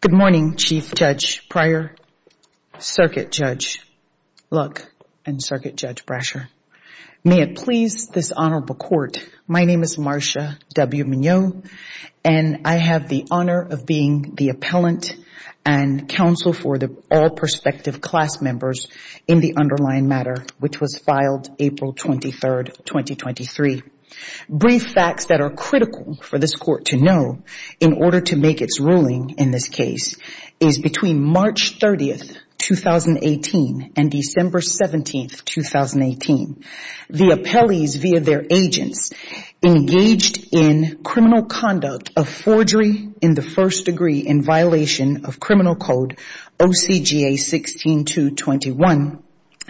Good morning, Chief Judge Pryor, Circuit Judge Lutz. May it please this honorable court, my name is Marsha W. Mignott and I have the honor of being the appellant and counsel for the all prospective class members in the underlying matter which was filed April 23rd, 2023. Brief facts that are critical for this court to know in order to make its ruling in this case is between March 30th, 2018 and December 17th, 2018, the appellees via their agents engaged in criminal conduct of forgery in the first degree in violation of criminal code OCGA 16221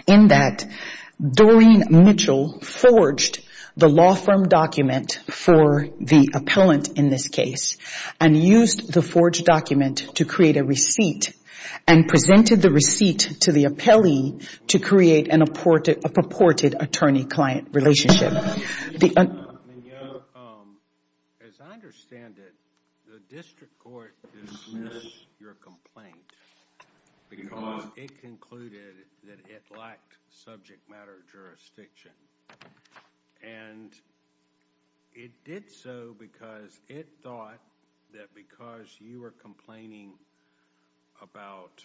in that Doreen Mitchell forged the law firm document for the appellant in this case and used the forged document to create a receipt and presented the receipt to the appellee to create a purported attorney-client relationship. Chief Judge Pryor, as I understand it, the district court dismissed your complaint because it concluded that it lacked subject matter jurisdiction and it did so because it thought that because you were complaining about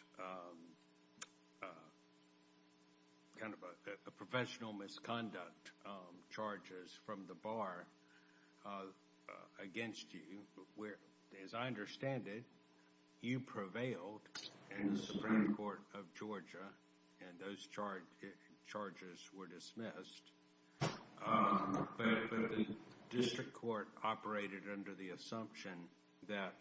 kind of a professional misconduct charges from the bar against you where, as I understand it, you prevailed in the Supreme Court of Georgia and those charges were dismissed but the district court operated under the assumption that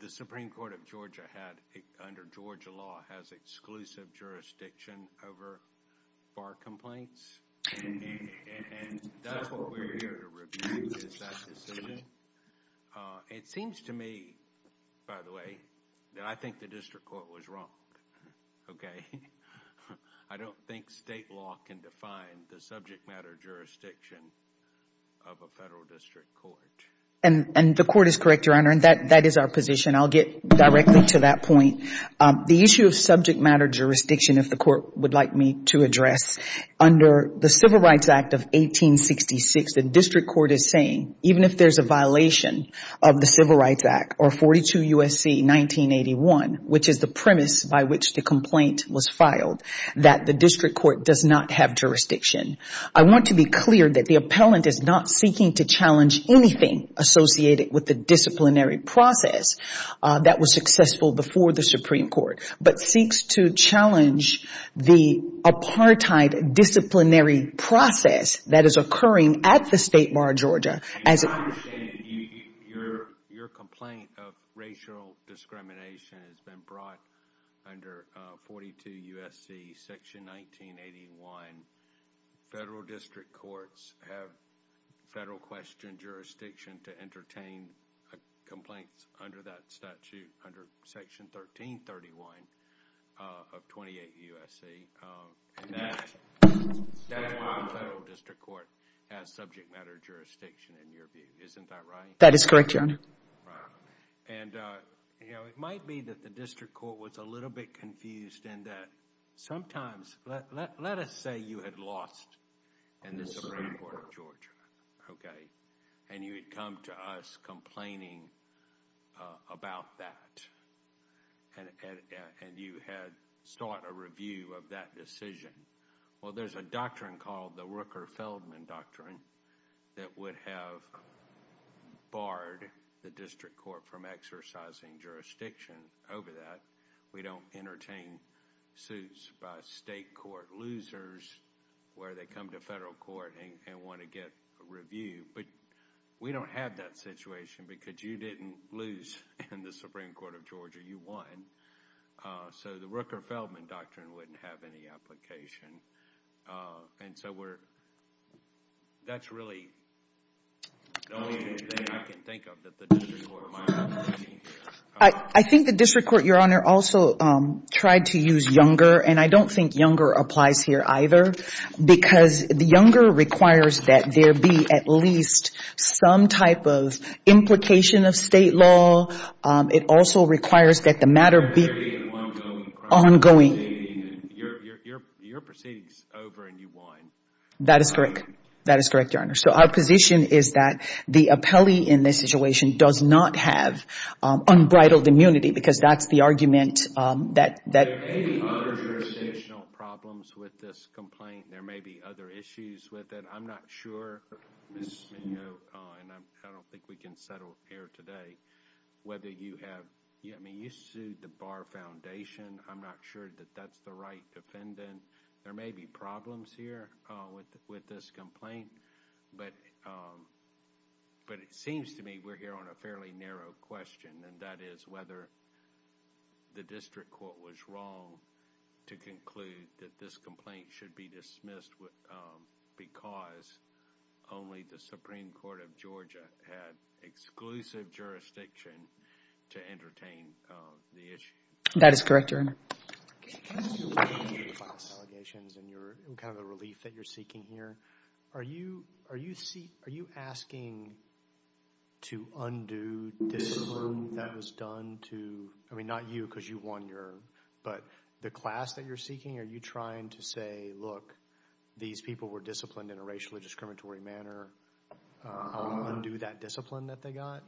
the Supreme Court of Georgia had, under Georgia law, has exclusive jurisdiction over bar complaints and that's what we're here to review, is that decision. It seems to me, by the way, that I think the district court was wrong, okay? I don't think state law can define the subject matter jurisdiction of a federal district court. And the court is correct, Your Honor, and that is our position. I'll get directly to that point. The issue of subject matter jurisdiction, if the court would like me to address, under the Civil Rights Act of 1866, the district court is saying, even if there's a violation of the Civil Rights Act or 42 U.S.C. 1981, which is the premise by which the complaint was filed, that the district court does not have jurisdiction. I want to be clear that the appellant is not seeking to challenge anything associated with the disciplinary process that was successful before the Supreme Court, but seeks to challenge the apartheid disciplinary process that is occurring at the State Bar of Georgia as a Your complaint of racial discrimination has been brought under 42 U.S.C. section 1981. Federal district courts have federal question jurisdiction to entertain a complaint under that statute, under section 1331 of 28 U.S.C., and that federal district court has subject matter jurisdiction in your view, isn't that right? That is correct, Your Honor. Right. And, you know, it might be that the district court was a little bit confused in that sometimes, let us say you had lost in the Supreme Court of Georgia, okay, and you had come to us complaining about that, and you had sought a review of that decision. Well, there's a doctrine called the Rooker-Feldman Doctrine that would have barred the district court from exercising jurisdiction over that. We don't entertain suits by state court losers where they come to federal court and want to get a review, but we don't have that situation because you didn't lose in the Supreme Court of Georgia. You won. So, the Rooker-Feldman Doctrine wouldn't have any application, and so we're, that's really the only thing I can think of that the district court might have. I think the district court, Your Honor, also tried to use younger, and I don't think younger applies here either because the younger requires that there be at least some type of implication of state law. It also requires that the matter be ongoing. Your proceeding is over and you won. That is correct. That is correct, Your Honor. So, our position is that the appellee in this situation does not have unbridled immunity because that's the argument that... There may be other jurisdictional problems with this complaint. There may be other issues with it. I'm not sure, Ms. Mignot, and I don't think we can settle here today, whether you have, I mean, you sued the Barr Foundation. I'm not sure that that's the right defendant. There may be problems here with this complaint, but it seems to me we're here on a fairly narrow question, and that is whether the district court was wrong to conclude that this complaint should be dismissed because only the Supreme Court of Georgia had exclusive jurisdiction to entertain the issue. That is correct, Your Honor. Considering the class allegations and the relief that you're seeking here, are you asking to undo discipline that was done to, I mean, not you because you won your, but the class that you're seeking, are you trying to say, look, these people were disciplined in a racially discriminatory manner, I'll undo that discipline that they got?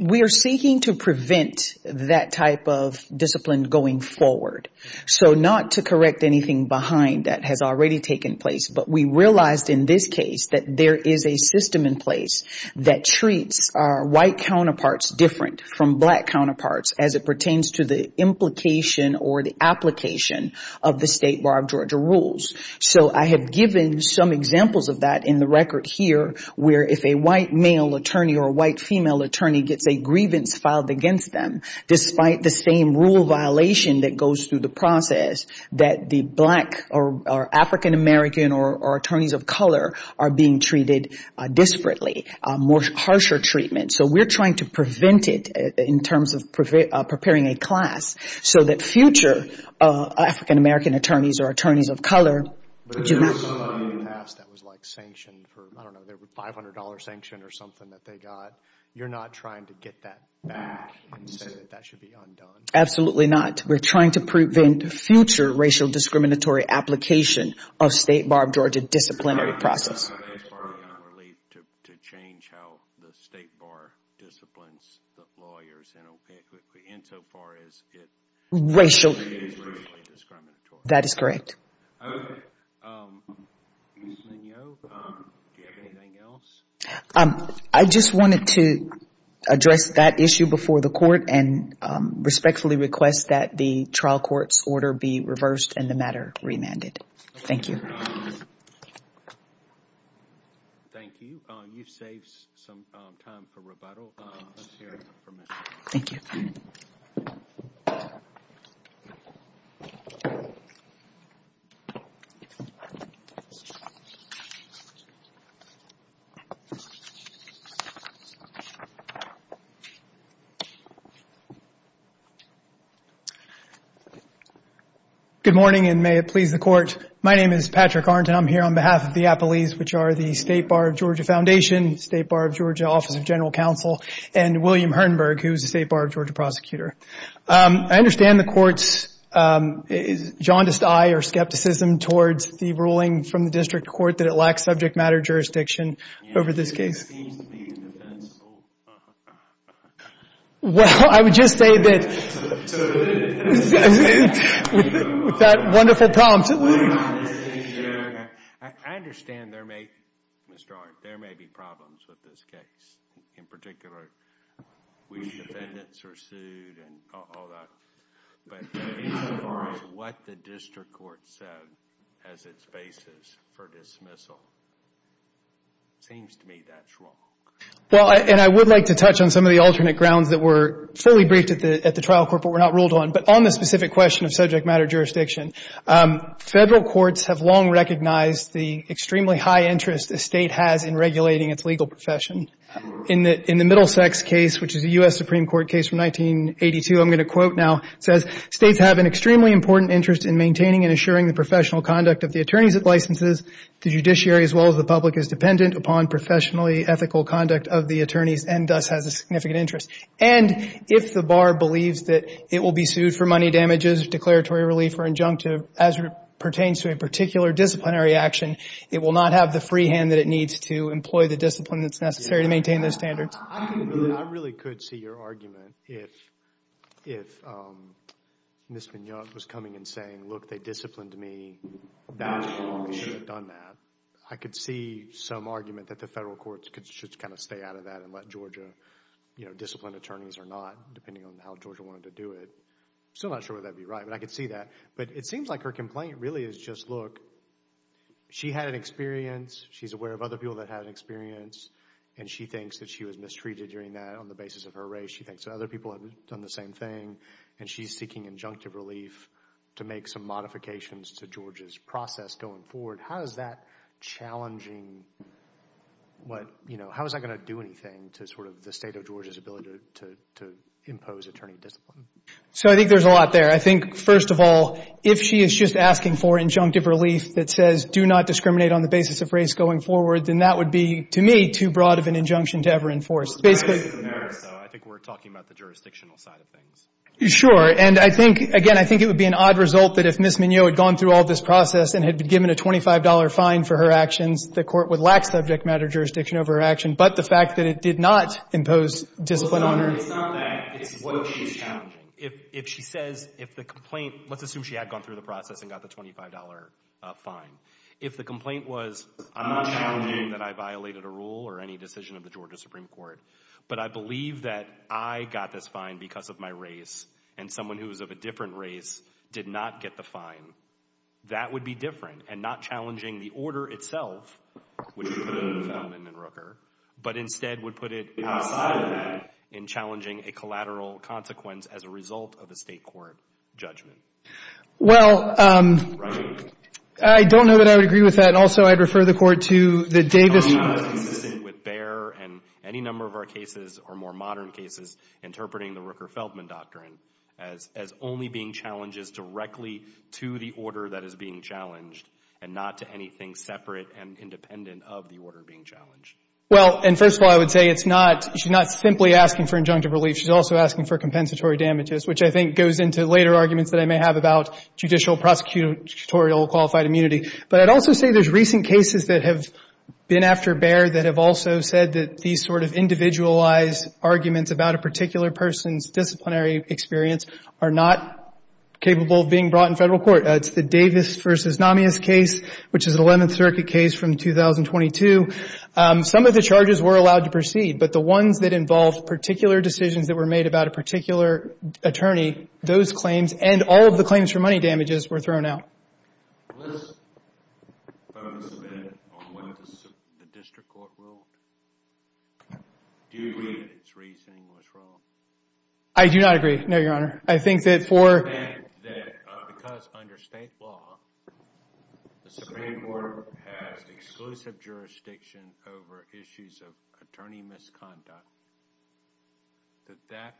We are seeking to prevent that type of discipline going forward, so not to correct anything behind that has already taken place, but we realized in this case that there is a system in place that treats our white counterparts different from black counterparts as it pertains to the implication or the application of the state bar of Georgia rules. I have given some examples of that in the record here, where if a white male attorney or a white female attorney gets a grievance filed against them, despite the same rule violation that goes through the process, that the black or African-American or attorneys of color are being treated disparately, more harsher treatment. So we're trying to prevent it in terms of preparing a class so that future African-American attorneys or attorneys of color do not get... There was something in the past that was like sanctioned for, I don't know, a $500 sanction or something that they got. You're not trying to get that back and say that that should be undone? Absolutely not. We're trying to prevent future racial discriminatory application of state bar of Georgia disciplinary process. That's part of the relief to change how the state bar disciplines the lawyers in so far as it is racially discriminatory. That is correct. Okay. Ms. Mignot, do you have anything else? I just wanted to address that issue before the court and respectfully request that the trial court's order be reversed and the matter remanded. Thank you. Thank you. You've saved some time for rebuttal. Let's hear it from Ms. Mignot. Thank you. Good morning, and may it please the court. My name is Patrick Arndt, and I'm here on behalf of the Appellees, which are the State Bar of Georgia Foundation, State Bar of Georgia Office of General Counsel, and William Hertenberg, who is the State Bar of Georgia Prosecutor. I understand the court's jaundiced eye or skepticism towards the ruling from the district court that it lacks subject matter jurisdiction over this case. It seems to be indefensible. Well, I would just say that with that wonderful prompt. I understand there may, Mr. Arndt, there may be problems with this case. In particular, which defendants are sued and all that, but as far as what the district court said as its basis for dismissal, it seems to me that's wrong. Well, and I would like to touch on some of the alternate grounds that were fully briefed at the trial court but were not ruled on, but on the specific question of subject matter jurisdiction. Federal courts have long recognized the extremely high interest a state has in regulating its legal profession. In the Middlesex case, which is a U.S. Supreme Court case from 1982, I'm going to quote now, it says, states have an extremely important interest in maintaining and assuring the professional conduct of the attorneys it licenses, the judiciary as well as the public is dependent upon professionally ethical conduct of the attorneys and thus has a significant interest. And if the bar believes that it will be sued for money damages, declaratory relief or injunctive as it pertains to a particular disciplinary action, it will not have the free hand that needs to employ the discipline that's necessary to maintain those standards. I really could see your argument if Ms. Mignot was coming and saying, look, they disciplined me, that's wrong, we should have done that. I could see some argument that the federal courts should kind of stay out of that and let Georgia, you know, discipline attorneys or not, depending on how Georgia wanted to do it. I'm still not sure whether that would be right, but I could see that. But it seems like her complaint really is just, look, she had an experience, she's aware of other people that had an experience and she thinks that she was mistreated during that on the basis of her race, she thinks that other people have done the same thing and she's seeking injunctive relief to make some modifications to Georgia's process going forward. How is that challenging what, you know, how is that going to do anything to sort of the state of Georgia's ability to impose attorney discipline? So I think there's a lot there. I think, first of all, if she is just asking for injunctive relief that says do not discriminate on the basis of race going forward, then that would be, to me, too broad of an injunction to ever enforce. Basically — But race is a matter, so I think we're talking about the jurisdictional side of things. Sure. And I think, again, I think it would be an odd result that if Ms. Mignot had gone through all this process and had been given a $25 fine for her actions, the Court would lack subject matter jurisdiction over her action. But the fact that it did not impose discipline on her — Well, it's not that. It's what she's challenging. If she says, if the complaint — let's assume she had gone through the process and got the $25 fine. If the complaint was, I'm not challenging that I violated a rule or any decision of the Georgia Supreme Court, but I believe that I got this fine because of my race and someone who is of a different race did not get the fine, that would be different and not challenging the order itself, which would put it in the Feldman and Rooker, but instead would put it outside of that in challenging a collateral consequence as a result of a state court judgment. Well — Right. I don't know that I would agree with that, and also I'd refer the Court to the Davis — I'm not consistent with Baer and any number of our cases or more modern cases interpreting the Rooker-Feldman doctrine as only being challenges directly to the order that is being challenged and not to anything separate and independent of the order being challenged. Well, and first of all, I would say it's not — she's not simply asking for injunctive relief. She's also asking for compensatory damages, which I think goes into later arguments that they may have about judicial prosecutorial qualified immunity, but I'd also say there's recent cases that have been after Baer that have also said that these sort of individualized arguments about a particular person's disciplinary experience are not capable of being brought in federal court. It's the Davis v. Namias case, which is an Eleventh Circuit case from 2022. Some of the charges were allowed to proceed, but the ones that involved particular decisions that were made about a particular attorney, those claims and all of the claims for money damages were thrown out. Let's focus a bit on what the district court ruled. Do you agree that its reasoning was wrong? I do not agree. No, Your Honor. I think that for — And that because under state law, the Supreme Court has exclusive jurisdiction over issues of attorney misconduct, that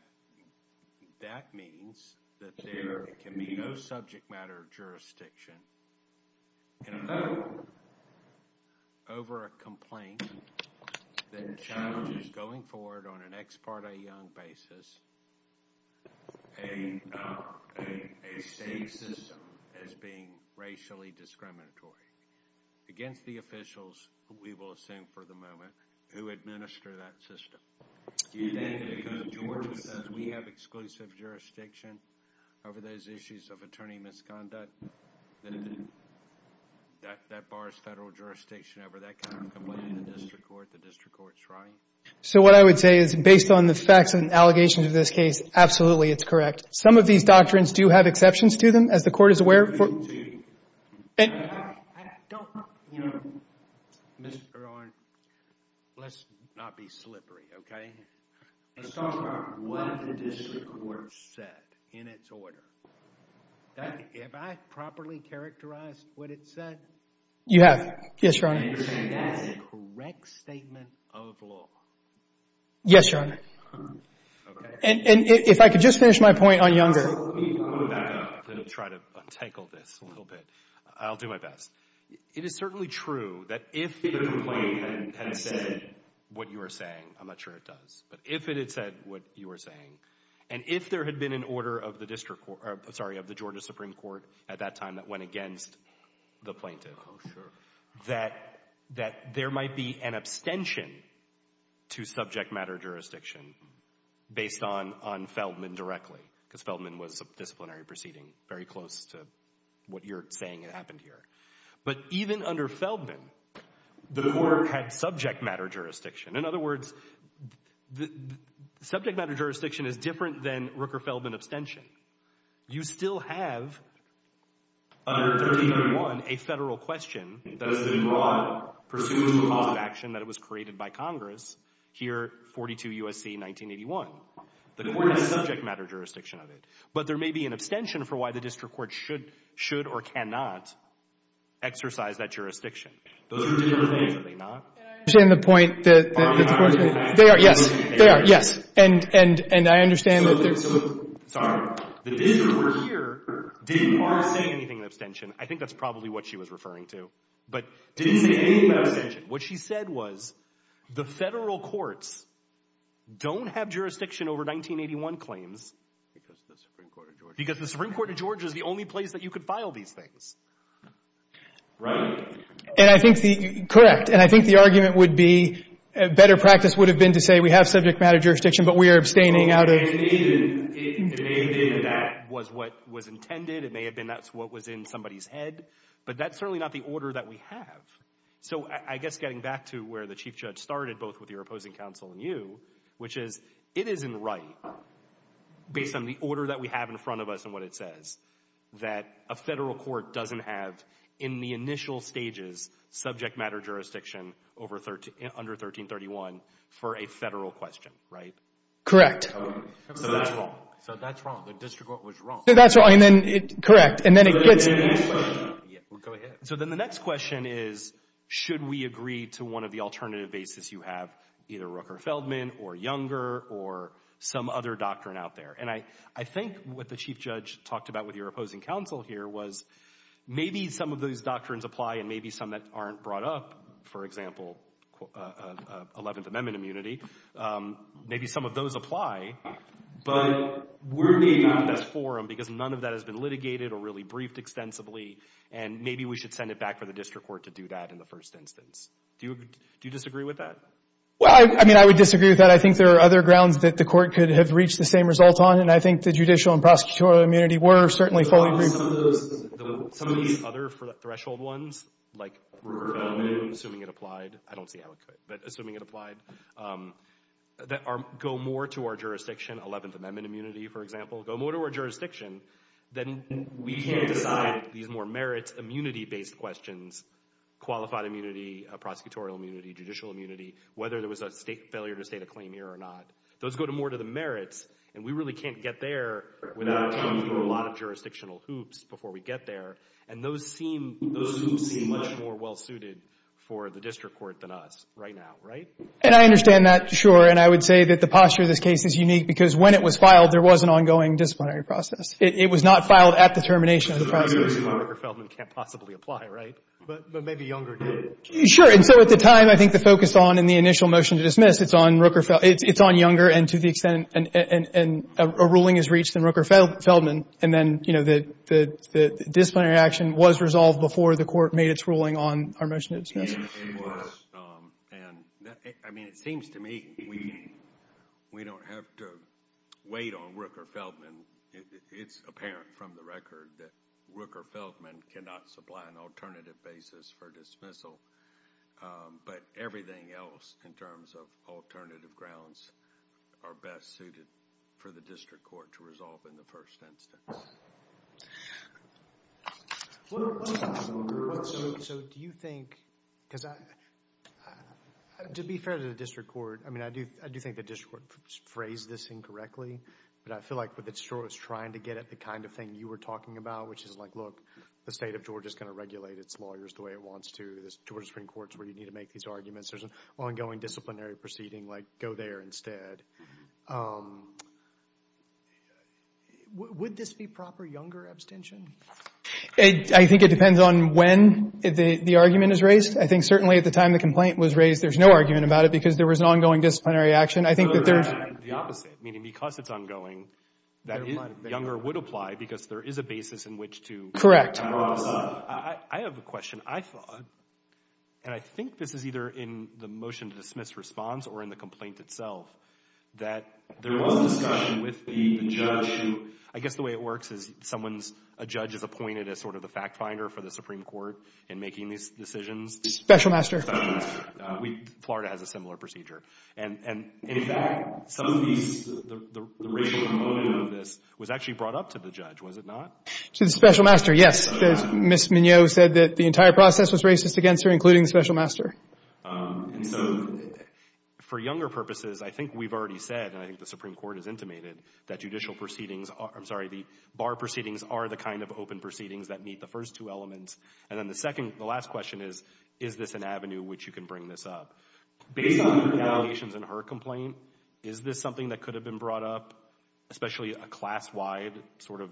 that means that there can be no subject matter of jurisdiction in a federal court over a complaint that challenges going forward on an ex parte young basis a state system as being racially discriminatory against the officials, who we will assume for the moment, who administer that system. Do you agree that because Georgia says we have exclusive jurisdiction over those issues of attorney misconduct, that that bars federal jurisdiction over that kind of complaint in the district court, the district court's right? So what I would say is, based on the facts and allegations of this case, absolutely it's correct. Some of these doctrines do have exceptions to them, as the court is aware of — Mr. Arnn, let's not be slippery, okay? Let's talk about what the district court said in its order. Have I properly characterized what it said? You have. Yes, Your Honor. And you're saying that's a correct statement of law? Yes, Your Honor. Okay. And if I could just finish my point on Younger — Let me back up and try to untangle this a little bit. I'll do my best. It is certainly true that if the complaint had said what you are saying — I'm not sure it does — but if it had said what you are saying, and if there had been an order of the Georgia Supreme Court at that time that went against the plaintiff, that there might be an abstention to subject matter jurisdiction based on Feldman directly, because Feldman was a disciplinary proceeding, very close to what you're saying had happened here. But even under Feldman, the court had subject matter jurisdiction. In other words, subject matter jurisdiction is different than Rooker-Feldman abstention. You still have, under 1381, a federal question that has been brought pursuant to a cause of action that was created by Congress here, 42 U.S.C. 1981. The court has subject matter jurisdiction of it. But there may be an abstention for why the district court should or cannot exercise that jurisdiction. Those are different things. Are they not? And I understand the point that — They are. Yes. They are. Yes. And I understand that — So, sorry. The district court here didn't say anything in abstention. I think that's probably what she was referring to. But didn't say anything in abstention. What she said was, the federal courts don't have jurisdiction over 1981 claims. Because the Supreme Court of Georgia — Because the Supreme Court of Georgia is the only place that you could file these things. Right. And I think the — correct. And I think the argument would be, better practice would have been to say, we have subject matter jurisdiction, but we are abstaining out of — It may have been that that was what was intended. It may have been that's what was in somebody's head. But that's certainly not the order that we have. So, I guess getting back to where the Chief Judge started, both with your opposing counsel and you, which is, it isn't right, based on the order that we have in front of us and what it says, that a federal court doesn't have, in the initial stages, subject matter jurisdiction under 1331 for a federal question, right? Correct. So, that's wrong. So, that's wrong. The district court was wrong. So, that's wrong. And then — correct. And then it gets — Go ahead. So, then the next question is, should we agree to one of the alternative bases you have, either Rooker-Feldman or Younger or some other doctrine out there? And I think what the Chief Judge talked about with your opposing counsel here was, maybe some of those doctrines apply and maybe some that aren't brought up, for example, 11th Amendment immunity, maybe some of those apply. But we're the best forum because none of that has been litigated or really briefed extensively. And maybe we should send it back for the district court to do that in the first instance. Do you disagree with that? Well, I mean, I would disagree with that. I think there are other grounds that the court could have reached the same result on. And I think the judicial and prosecutorial immunity were certainly fully — Some of these other threshold ones, like — Rooker-Feldman. Assuming it applied. I don't see how it could. But assuming it applied, that go more to our jurisdiction, 11th Amendment immunity, for merits, immunity-based questions, qualified immunity, prosecutorial immunity, judicial immunity, whether there was a state failure to state a claim here or not. Those go more to the merits. And we really can't get there without going through a lot of jurisdictional hoops before we get there. And those hoops seem much more well-suited for the district court than us right now, right? And I understand that, sure. And I would say that the posture of this case is unique because when it was filed, there was an ongoing disciplinary process. It was not filed at the termination of the process. So the ruling on Rooker-Feldman can't possibly apply, right? But maybe Younger did. Sure. And so at the time, I think the focus on in the initial motion to dismiss, it's on Younger and to the extent — and a ruling is reached in Rooker-Feldman. And then, you know, the disciplinary action was resolved before the court made its ruling on our motion to dismiss. I mean, it seems to me we don't have to wait on Rooker-Feldman. It's apparent from the record that Rooker-Feldman cannot supply an alternative basis for dismissal. But everything else in terms of alternative grounds are best suited for the district court to resolve in the first instance. What about Younger? So do you think — because to be fair to the district court, I mean, I do think the district court phrased this incorrectly. But I feel like it's trying to get at the kind of thing you were talking about, which is like, look, the state of Georgia is going to regulate its lawyers the way it wants to. The Georgia Supreme Court is where you need to make these arguments. There's an ongoing disciplinary proceeding. Like, go there instead. Would this be proper Younger abstention? I think it depends on when the argument is raised. I think certainly at the time the complaint was raised, there's no argument about it because there was an ongoing disciplinary action. The opposite, meaning because it's ongoing, Younger would apply because there is a basis in which to — Correct. I have a question. I thought — and I think this is either in the motion to dismiss response or in the motion that there was a discussion with the judge who — I guess the way it works is someone's — a judge is appointed as sort of the fact finder for the Supreme Court in making these decisions. Special master. Florida has a similar procedure. And in fact, some of these — the racial component of this was actually brought up to the judge, was it not? To the special master, yes. Ms. Mignot said that the entire process was racist against her, including the special master. And so for Younger purposes, I think we've already said, and I think the Supreme Court has intimated, that judicial proceedings are — I'm sorry, the bar proceedings are the kind of open proceedings that meet the first two elements. And then the second — the last question is, is this an avenue which you can bring this up? Based on your allegations in her complaint, is this something that could have been brought up, especially a class-wide sort of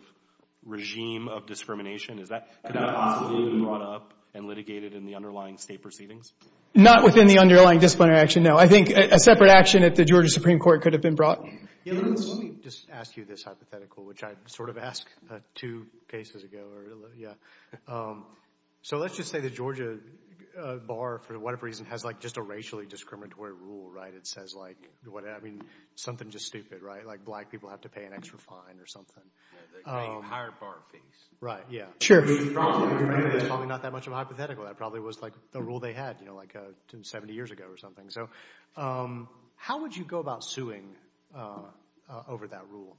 regime of discrimination? Is that — Could that possibly be brought up and litigated in the underlying state proceedings? Not within the underlying disciplinary action, no. I think a separate action at the Georgia Supreme Court could have been brought. Let me just ask you this hypothetical, which I sort of asked two cases ago. So let's just say the Georgia bar, for whatever reason, has like just a racially discriminatory rule, right? It says like — I mean, something just stupid, right? Like black people have to pay an extra fine or something. Yeah, the higher bar fees. Right, yeah. Sure. Probably not that much of a hypothetical. That probably was like the rule they had, you know, like 70 years ago or something. So how would you go about suing over that rule?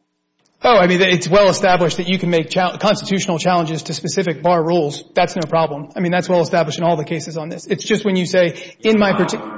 Oh, I mean, it's well-established that you can make constitutional challenges to specific bar rules. That's no problem. I mean, that's well-established in all the cases on this. It's just when you say, in my particular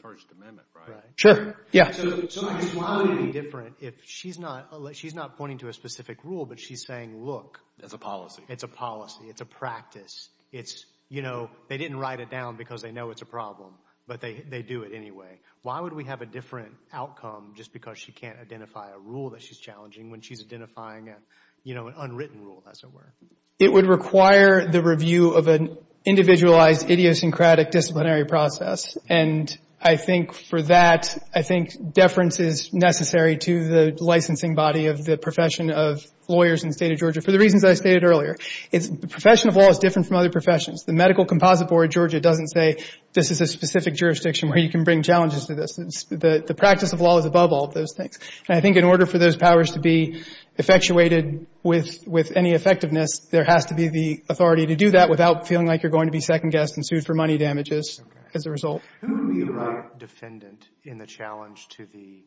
— First Amendment, right? Sure, yeah. So why would it be different if she's not — she's not pointing to a specific rule, but she's saying, look — It's a policy. It's a policy. It's a practice. It's, you know, they didn't write it down because they know it's a problem, but they do it anyway. Why would we have a different outcome just because she can't identify a rule that she's challenging when she's identifying, you know, an unwritten rule, as it were? It would require the review of an individualized idiosyncratic disciplinary process. And I think for that, I think deference is necessary to the licensing body of the profession of lawyers in the state of Georgia for the reasons I stated earlier. The profession of law is different from other professions. The medical composite board of Georgia doesn't say, this is a specific jurisdiction where you can bring challenges to this. The practice of law is above all of those things. And I think in order for those powers to be effectuated with any effectiveness, there has to be the authority to do that without feeling like you're going to be second-guessed and sued for money damages as a result. Who would be the right defendant in the challenge to the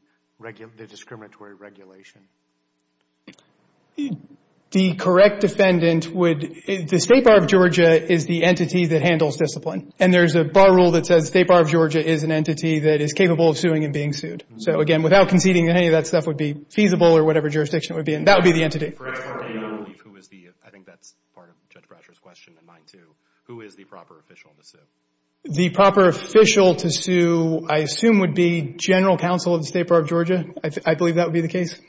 discriminatory regulation? The correct defendant would – the State Bar of Georgia is the entity that handles discipline. And there's a bar rule that says the State Bar of Georgia is an entity that is capable of suing and being sued. So again, without conceding that any of that stuff would be feasible or whatever jurisdiction it would be in, that would be the entity. I think that's part of Judge Brasher's question and mine too. Who is the proper official to sue? The proper official to sue, I assume, would be general counsel of the State Bar of Georgia. I believe that would be the case.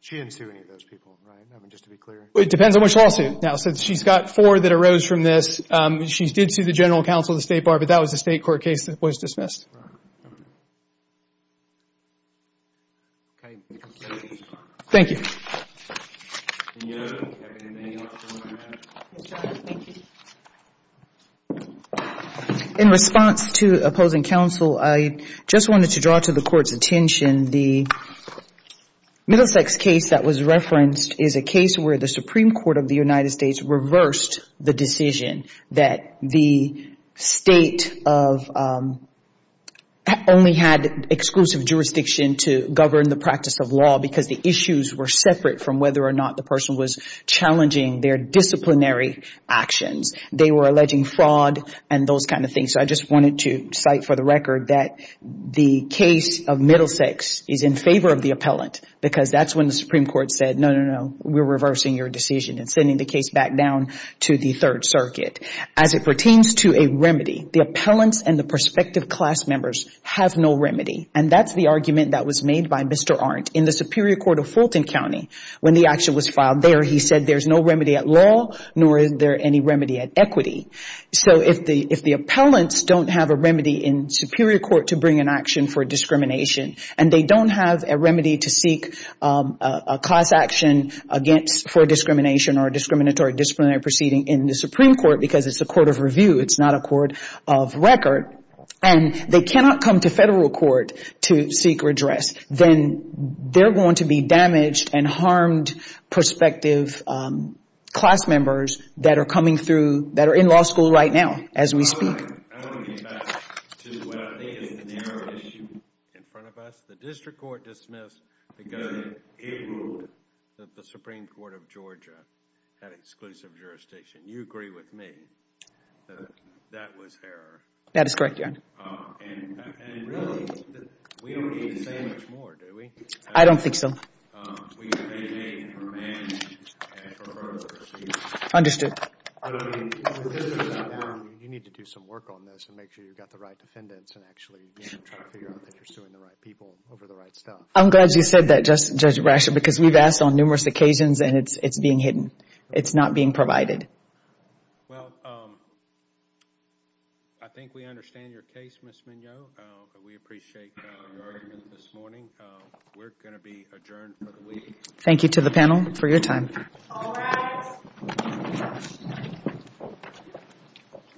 She didn't sue any of those people, right? I mean, just to be clear. It depends on which lawsuit. Now, since she's got four that arose from this, she did sue the general counsel of the State Bar, but that was the state court case that was dismissed. Thank you. Thank you. In response to opposing counsel, I just wanted to draw to the Court's attention the Middlesex case that was referenced is a case where the Supreme Court of the United States reversed the decision that the State only had exclusive jurisdiction to govern the practice of law because the issues were separate from whether or not the person was challenging their disciplinary actions. They were alleging fraud and those kind of things. So I just wanted to cite for the record that the case of Middlesex is in favor of the appellant because that's when the Supreme Court said, no, no, no, we're reversing your decision and sending the case back down to the Third Circuit. As it pertains to a remedy, the appellants and the prospective class members have no remedy, and that's the argument that was made by Mr. Arndt in the Superior Court of Fulton County. When the action was filed there, he said there's no remedy at law, nor is there any remedy at equity. So if the appellants don't have a remedy in Superior Court to bring an action for discrimination and they don't have a remedy to seek a class action for discrimination or a discriminatory disciplinary proceeding in the Supreme Court because it's a court of review, it's not a court of record, and they cannot come to federal court to seek redress, then they're going to be damaged and harmed prospective class members that are coming through, that are in law school right now as we speak. I want to get back to what I think is the narrow issue in front of us. The district court dismissed because it ruled that the Supreme Court of Georgia had exclusive jurisdiction. You agree with me that that was error. That is correct, Your Honor. And really, we don't need to say much more, do we? I don't think so. We have AJ and her man and her workers. Understood. You need to do some work on this and make sure you've got the right defendants and actually try to figure out that you're suing the right people over the right stuff. I'm glad you said that, Judge Brasher, because we've asked on numerous occasions and it's being hidden. It's not being provided. Well, I think we understand your case, Ms. Mignot. We appreciate your argument this morning. We're going to be adjourned for the week. Thank you to the panel for your time. All rise.